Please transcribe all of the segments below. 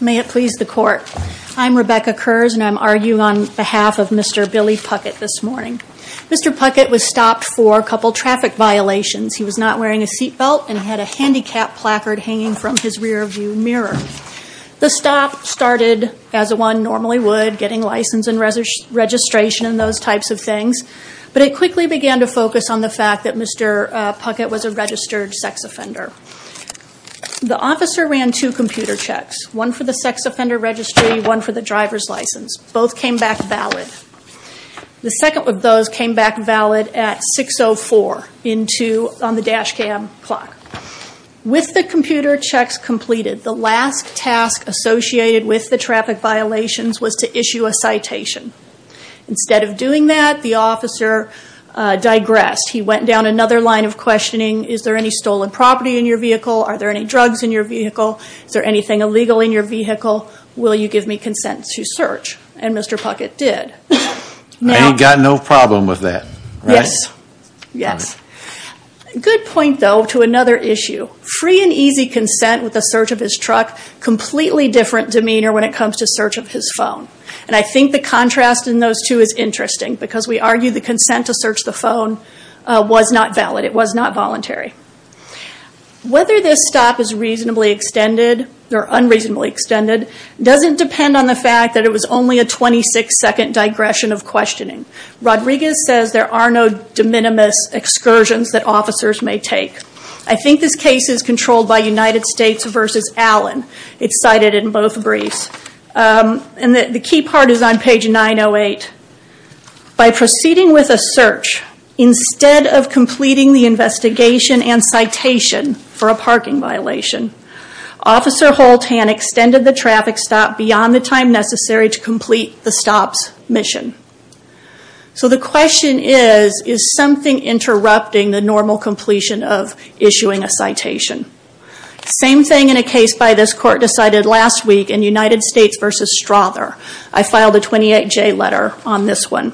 May it please the court. I'm Rebecca Kurz and I'm arguing on behalf of Mr. Billy Puckett this morning. Mr. Puckett was stopped for a couple traffic violations. He was not wearing a seatbelt and had a handicap placard hanging from his rearview mirror. The stop started as one normally would, getting license and registration and those types of things, but it quickly began to focus on the fact that Mr. Puckett was a registered sex offender. The officer ran two computer checks, one for the sex offender registry and one for the driver's license. Both came back valid. The second of those came back valid at 6.04 on the dash cam clock. With the computer checks completed, the last task associated with the traffic violations was to issue a citation. Instead of doing that, the officer digressed. He went down another line of questioning. Is there any stolen property in your vehicle? Are there any drugs in your vehicle? Is there anything illegal in your vehicle? Will you give me consent to search? And Mr. Puckett did. And he got no problem with that, right? Yes. Yes. Good point though to another issue. Free and easy consent with the search of his truck, completely different demeanor when it comes to search of his phone. And I think the contrast in those two is interesting because we argue the consent to search the phone was not valid. It was not voluntary. Whether this stop is reasonably extended or unreasonably extended doesn't depend on the fact that it was only a 26-second digression of questioning. Rodriguez says there are no de minimis excursions that officers may take. I think this case is controlled by United States versus Allen. It's cited in both briefs. The key part is on page 908. By proceeding with a search, instead of completing the investigation and citation for a parking violation, Officer Holtan extended the traffic stop beyond the time necessary to complete the stop's mission. So the question is, is something interrupting the normal completion of issuing a citation? Same thing in a case by this court decided last week in United States versus Strother. I filed a 28-J letter on this one.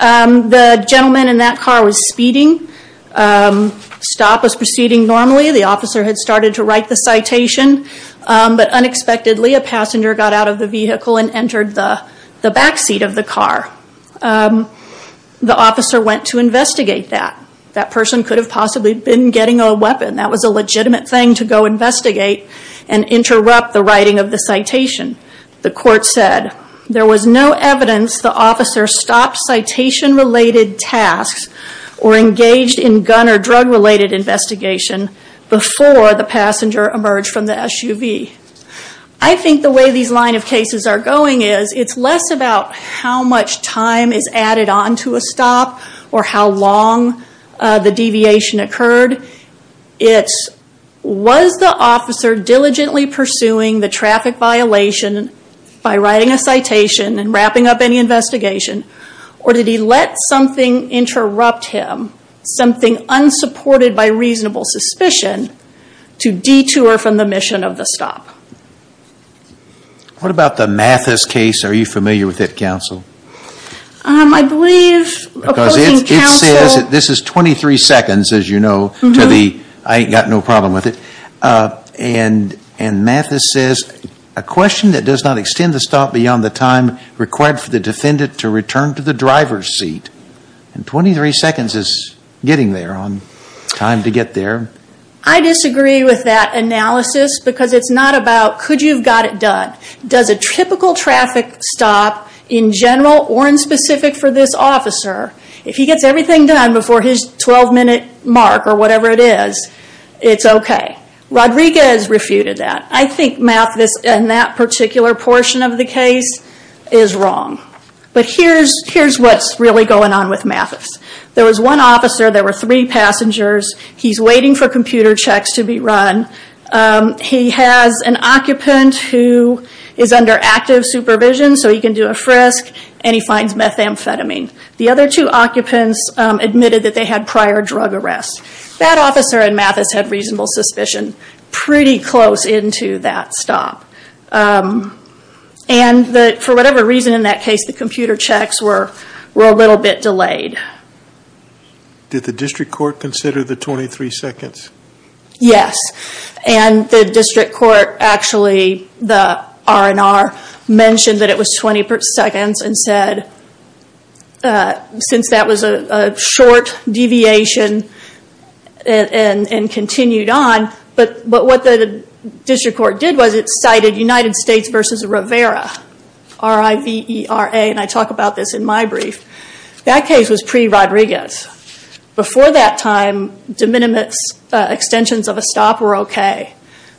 The gentleman in that car was speeding. Stop was proceeding normally. The officer had started to write the citation. But unexpectedly, a passenger got out of the vehicle and entered the backseat of the car. The officer went to investigate that. That person could have possibly been getting a weapon. That was a legitimate thing to go investigate and interrupt the writing of the citation. The court said there was no evidence the officer stopped citation-related tasks or engaged in gun or drug-related investigation before the passenger emerged from the SUV. I think the way these line of cases are going is it's less about how much time is added on to a stop or how long the deviation occurred. It's was the officer diligently pursuing the traffic violation by writing a citation and wrapping up any investigation? Or did he let something interrupt him, something unsupported by reasonable suspicion, to detour from the mission of the stop? What about the Mathis case? Are you familiar with it, counsel? I believe... This is 23 seconds, as you know. I've got no problem with it. And Mathis says, A question that does not extend the stop beyond the time required for the defendant to return to the driver's seat. 23 seconds is getting there on time to get there. I disagree with that analysis because it's not about could you have got it done. Does a typical traffic stop in general or in specific for this officer, if he gets everything done before his 12-minute mark or whatever it is, it's okay? Rodriguez refuted that. I think Mathis in that particular portion of the case is wrong. But here's what's really going on with Mathis. There was one officer. There were three passengers. He's waiting for computer checks to be run. He has an occupant who is under active supervision, so he can do a frisk and he finds methamphetamine. The other two occupants admitted that they had prior drug arrests. That officer in Mathis had reasonable suspicion pretty close into that stop. And for whatever reason in that case, the computer checks were a little bit delayed. Did the district court consider the 23 seconds? Yes. And the district court actually, the R&R, mentioned that it was 20 seconds and said, since that was a short deviation and continued on. But what the district court did was it cited United States versus Rivera, R-I-V-E-R-A. And I talk about this in my brief. That case was pre-Rodriguez. Before that time, de minimis extensions of a stop were okay.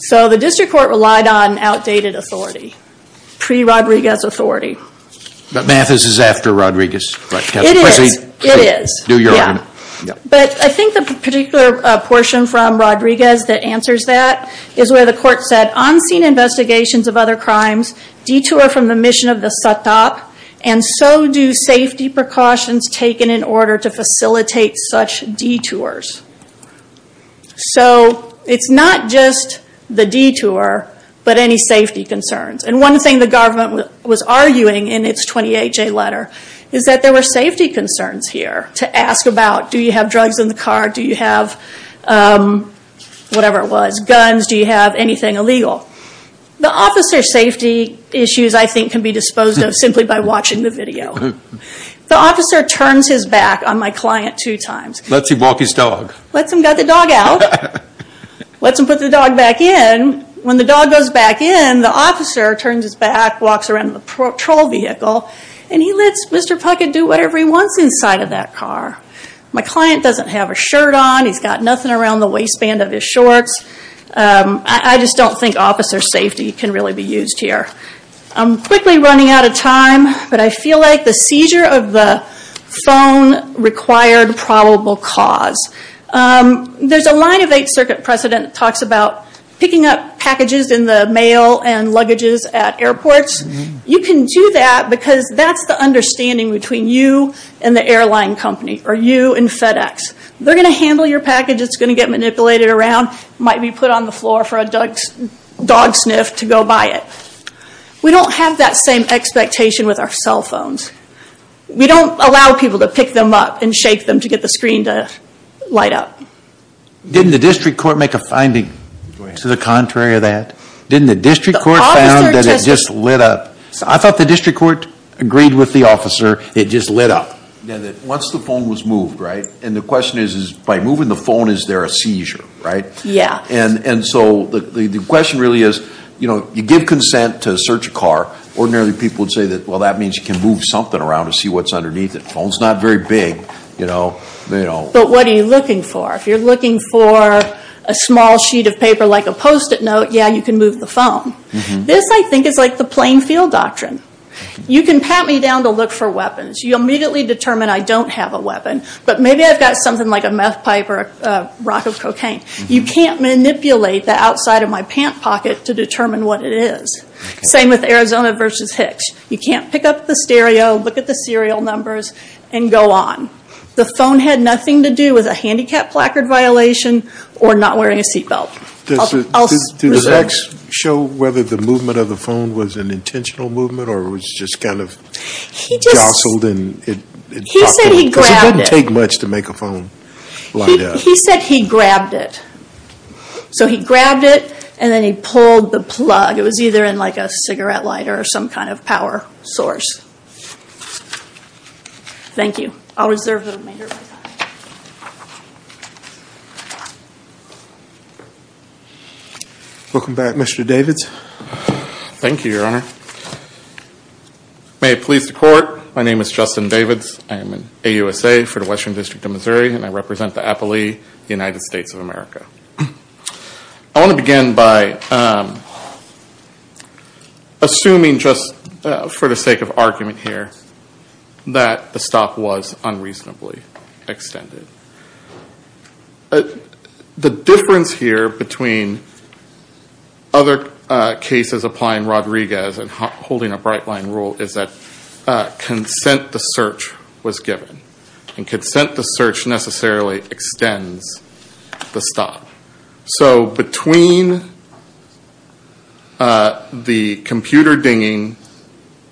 So the district court relied on outdated authority, pre-Rodriguez authority. But Mathis is after Rodriguez. It is. Do your own. But I think the particular portion from Rodriguez that answers that is where the court said, on-scene investigations of other crimes detour from the mission of the SATOP, and so do safety precautions taken in order to facilitate such detours. So it's not just the detour, but any safety concerns. And one thing the government was arguing in its 28-J letter, is that there were safety concerns here to ask about. Do you have drugs in the car? Do you have, whatever it was, guns? Do you have anything illegal? The officer's safety issues, I think, can be disposed of simply by watching the video. The officer turns his back on my client two times. Let's him walk his dog. Let's him get the dog out. Let's him put the dog back in. When the dog goes back in, the officer turns his back, walks around the patrol vehicle, and he lets Mr. Puckett do whatever he wants inside of that car. My client doesn't have a shirt on. He's got nothing around the waistband of his shorts. I just don't think officer safety can really be used here. I'm quickly running out of time, but I feel like the seizure of the phone required probable cause. There's a line of Eighth Circuit precedent that talks about picking up packages in the mail and luggages at airports. You can do that because that's the understanding between you and the airline company, or you and FedEx. They're going to handle your package. It's going to get manipulated around. It might be put on the floor for a dog sniff to go by it. We don't have that same expectation with our cell phones. We don't allow people to pick them up and shake them to get the screen to light up. Didn't the district court make a finding to the contrary of that? Didn't the district court found that it just lit up? I thought the district court agreed with the officer it just lit up. Once the phone was moved, right, and the question is by moving the phone is there a seizure, right? Yeah. And so the question really is you give consent to search a car. Ordinarily, people would say, well, that means you can move something around to see what's underneath it. The phone's not very big. But what are you looking for? If you're looking for a small sheet of paper like a Post-it note, yeah, you can move the phone. This, I think, is like the playing field doctrine. You can pat me down to look for weapons. You immediately determine I don't have a weapon, but maybe I've got something like a meth pipe or a rock of cocaine. You can't manipulate the outside of my pant pocket to determine what it is. Same with Arizona versus Hicks. You can't pick up the stereo, look at the serial numbers, and go on. The phone had nothing to do with a handicap placard violation or not wearing a seat belt. Does X show whether the movement of the phone was an intentional movement or was just kind of jostled? He said he grabbed it. Because it didn't take much to make a phone light up. He said he grabbed it. So he grabbed it, and then he pulled the plug. It was either in a cigarette lighter or some kind of power source. Thank you. I'll reserve the remainder of my time. Welcome back, Mr. Davids. Thank you, Your Honor. May it please the Court, my name is Justin Davids. I am an AUSA for the Western District of Missouri, and I represent the Appalachian United States of America. I want to begin by assuming just for the sake of argument here that the stop was unreasonably extended. The difference here between other cases applying Rodriguez and holding a bright-line rule is that consent to search was given. And consent to search necessarily extends the stop. So between the computer dinging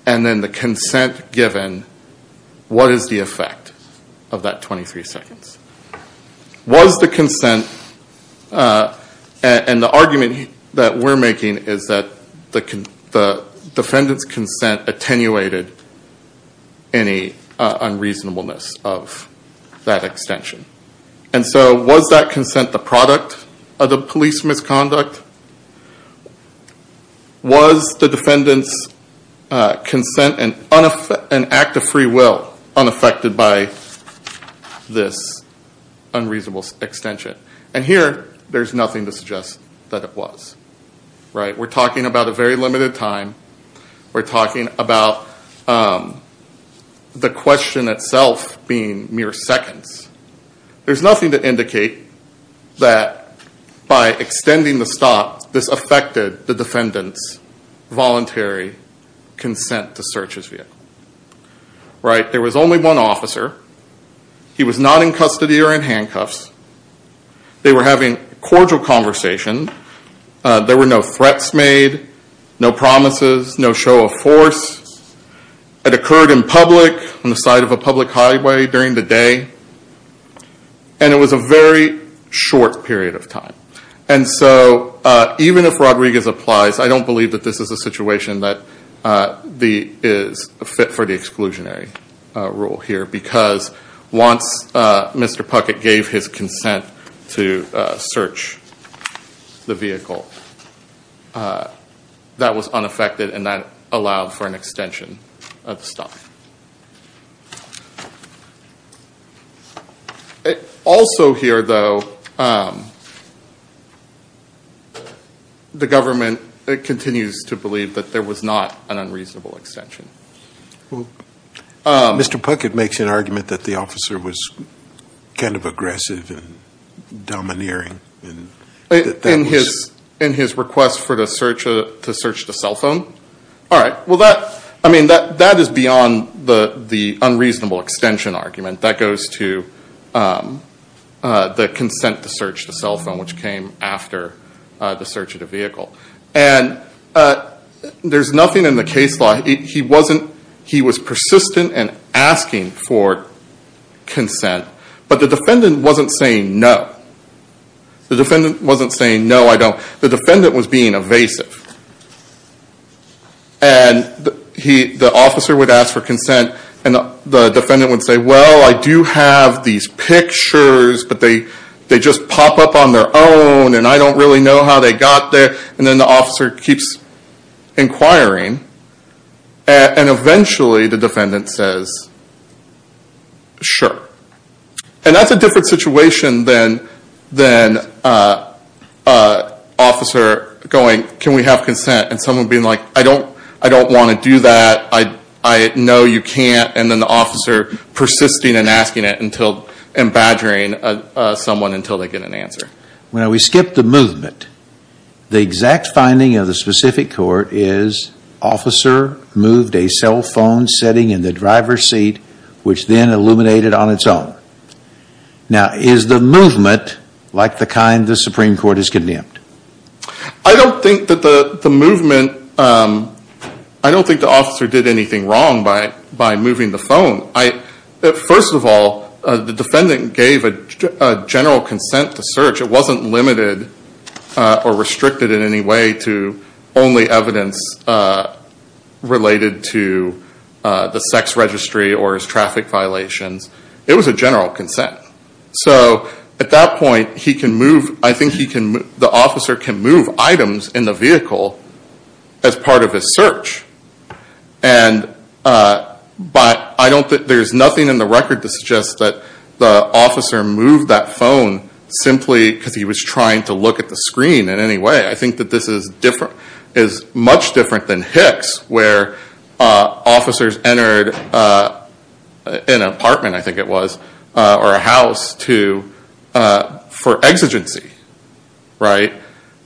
and then the consent given, what is the effect of that 23 seconds? Was the consent, and the argument that we're making is that the defendant's consent attenuated any unreasonableness of that extension. And so was that consent the product of the police misconduct? Was the defendant's consent an act of free will unaffected by this unreasonable extension? And here, there's nothing to suggest that it was. We're talking about a very limited time. We're talking about the question itself being mere seconds. There's nothing to indicate that by extending the stop, this affected the defendant's voluntary consent to search his vehicle. There was only one officer. He was not in custody or in handcuffs. They were having a cordial conversation. There were no threats made, no promises, no show of force. It occurred in public on the side of a public highway during the day. And it was a very short period of time. And so even if Rodriguez applies, I don't believe that this is a situation that is fit for the exclusionary rule here because once Mr. Puckett gave his consent to search the vehicle, that was unaffected and that allowed for an extension of the stop. Also here, though, the government continues to believe that there was not an unreasonable extension. Mr. Puckett makes an argument that the officer was kind of aggressive and domineering. In his request to search the cell phone? All right. Well, that is beyond the unreasonable extension argument. That goes to the consent to search the cell phone, which came after the search of the vehicle. And there's nothing in the case law. He was persistent in asking for consent, but the defendant wasn't saying no. The defendant wasn't saying no, I don't. The defendant was being evasive. And the officer would ask for consent and the defendant would say, well, I do have these pictures, but they just pop up on their own and I don't really know how they got there. And then the officer keeps inquiring. And eventually the defendant says, sure. And that's a different situation than an officer going, can we have consent, and someone being like, I don't want to do that, I know you can't, and then the officer persisting in asking it and badgering someone until they get an answer. Well, we skipped the movement. The exact finding of the specific court is officer moved a cell phone sitting in the driver's seat, which then illuminated on its own. Now, is the movement like the kind the Supreme Court has condemned? I don't think that the movement, I don't think the officer did anything wrong by moving the phone. First of all, the defendant gave a general consent to search. It wasn't limited or restricted in any way to only evidence related to the sex registry or his traffic violations. It was a general consent. So at that point, I think the officer can move items in the vehicle as part of his search. But there's nothing in the record to suggest that the officer moved that phone simply because he was trying to look at the screen in any way. I think that this is much different than Hicks, where officers entered an apartment, I think it was, or a house for exigency, right?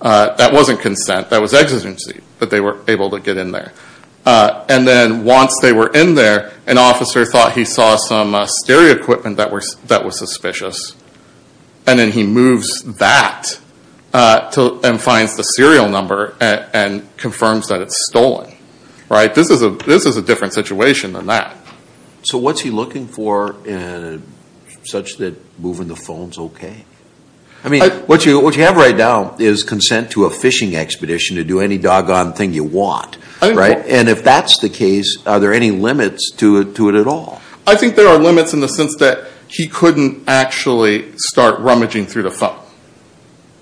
That wasn't consent, that was exigency, but they were able to get in there. And then once they were in there, an officer thought he saw some stereo equipment that was suspicious, and then he moves that and finds the serial number and confirms that it's stolen, right? This is a different situation than that. So what's he looking for such that moving the phone is okay? I mean, what you have right now is consent to a fishing expedition to do any doggone thing you want, right? And if that's the case, are there any limits to it at all? I think there are limits in the sense that he couldn't actually start rummaging through the phone,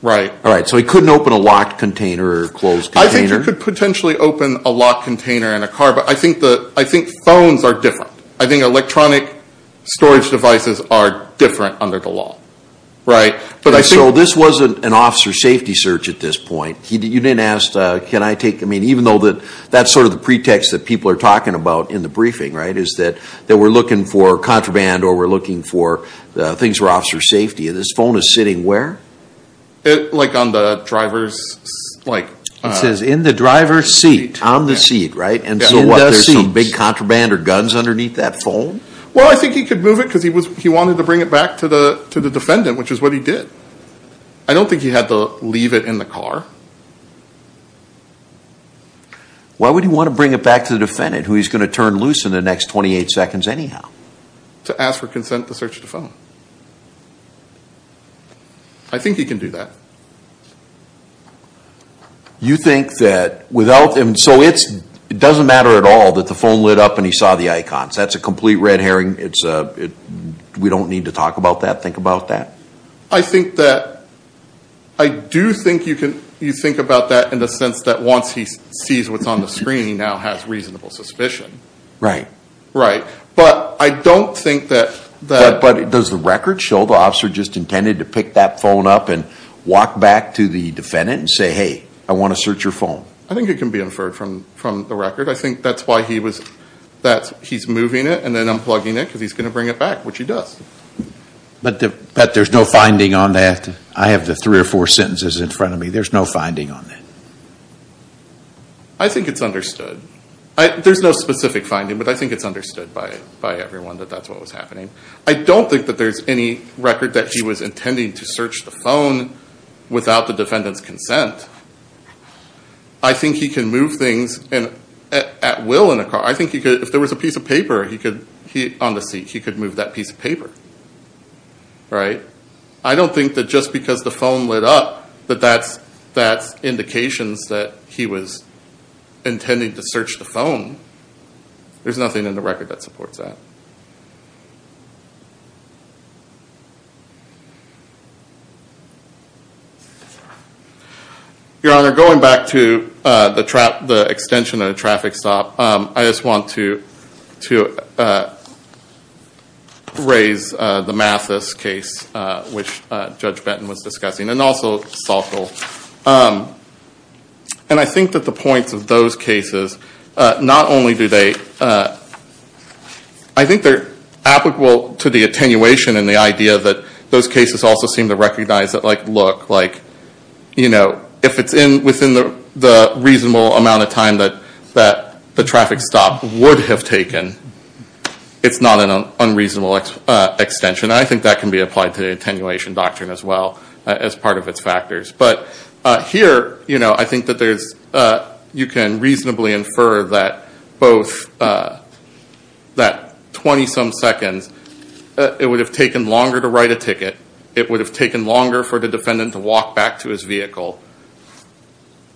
right? All right, so he couldn't open a locked container or a closed container? I think he could potentially open a locked container in a car, but I think phones are different. I think electronic storage devices are different under the law, right? So this wasn't an officer safety search at this point. You didn't ask, can I take, I mean, even though that's sort of the pretext that people are talking about in the briefing, right, is that we're looking for contraband or we're looking for things for officer safety. And this phone is sitting where? Like on the driver's seat. It says in the driver's seat, on the seat, right? And so what, there's some big contraband or guns underneath that phone? Well, I think he could move it because he wanted to bring it back to the defendant, which is what he did. I don't think he had to leave it in the car. Why would he want to bring it back to the defendant, who he's going to turn loose in the next 28 seconds anyhow? To ask for consent to search the phone. I think he can do that. You think that without, so it doesn't matter at all that the phone lit up and he saw the icons. That's a complete red herring. We don't need to talk about that, think about that? I think that, I do think you can, you think about that in the sense that once he sees what's on the screen, he now has reasonable suspicion. Right. Right. But I don't think that. But does the record show the officer just intended to pick that phone up and walk back to the defendant and say, hey, I want to search your phone? I think it can be inferred from the record. I think that's why he was, that he's moving it and then unplugging it because he's going to bring it back, which he does. But there's no finding on that? I have the three or four sentences in front of me. There's no finding on that? I think it's understood. There's no specific finding, but I think it's understood by everyone that that's what was happening. I don't think that there's any record that he was intending to search the phone without the defendant's consent. I think he can move things at will in a car. I think he could, if there was a piece of paper on the seat, he could move that piece of paper. Right. I don't think that just because the phone lit up that that's indications that he was intending to search the phone. There's nothing in the record that supports that. Your Honor, going back to the extension of the traffic stop, I just want to raise the Mathis case, which Judge Benton was discussing, and also Salko. And I think that the points of those cases, not only do they, I think they're applicable to the attenuation and the idea that those cases also seem to recognize that, like, look, like, you know, if it's within the reasonable amount of time that the traffic stop would have taken, it's not an unreasonable extension. And I think that can be applied to the attenuation doctrine as well as part of its factors. But here, you know, I think that there's, you can reasonably infer that both, that 20-some seconds, it would have taken longer to write a ticket, it would have taken longer for the defendant to walk back to his vehicle,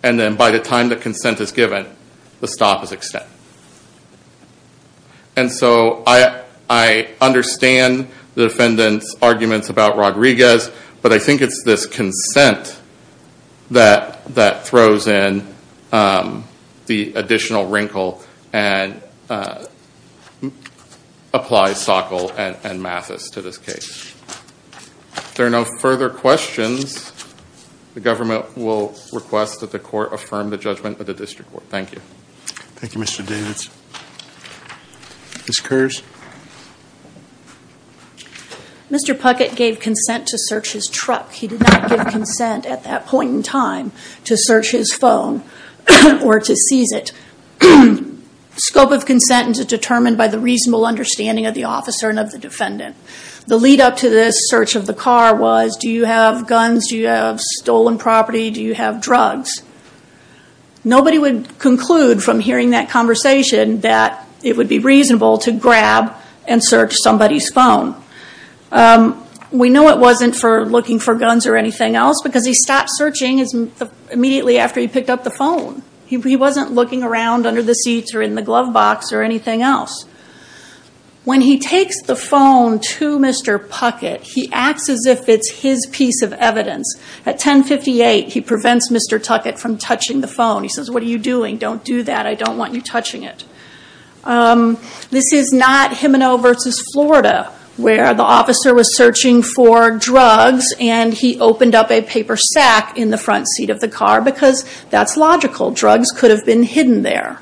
and then by the time the consent is given, the stop is extended. And so I understand the defendant's arguments about Rodriguez, but I think it's this consent that throws in the additional wrinkle and applies Salko and Mathis to this case. If there are no further questions, the government will request that the court affirm the judgment of the district court. Thank you. Thank you, Mr. Davids. Ms. Kerrs. Mr. Puckett gave consent to search his truck. He did not give consent at that point in time to search his phone or to seize it. Scope of consent is determined by the reasonable understanding of the officer and of the defendant. The lead up to this search of the car was, do you have guns? Do you have stolen property? Do you have drugs? Nobody would conclude from hearing that conversation that it would be reasonable to grab and search somebody's phone. We know it wasn't for looking for guns or anything else because he stopped searching immediately after he picked up the phone. He wasn't looking around under the seats or in the glove box or anything else. When he takes the phone to Mr. Puckett, he acts as if it's his piece of evidence. At 1058, he prevents Mr. Tuckett from touching the phone. He says, what are you doing? Don't do that. I don't want you touching it. This is not Gimeno v. Florida where the officer was searching for drugs and he opened up a paper sack in the front seat of the car because that's logical. Drugs could have been hidden there.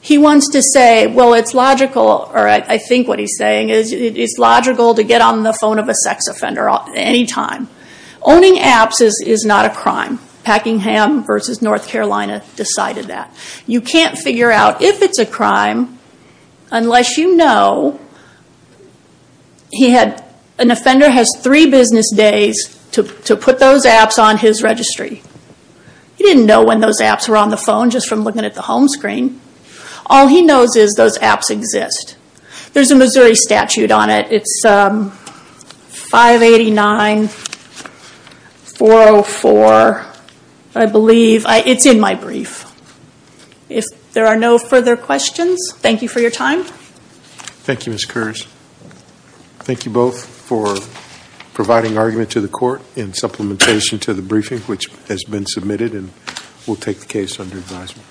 He wants to say, well, it's logical, or I think what he's saying is it's logical to get on the phone of a sex offender at any time. Owning apps is not a crime. Packingham v. North Carolina decided that. You can't figure out if it's a crime unless you know an offender has three business days to put those apps on his registry. He didn't know when those apps were on the phone just from looking at the home screen. All he knows is those apps exist. There's a Missouri statute on it. It's 589-404, I believe. It's in my brief. If there are no further questions, thank you for your time. Thank you, Ms. Kurz. Thank you both for providing argument to the court in supplementation to the briefing which has been submitted and we'll take the case under advisement.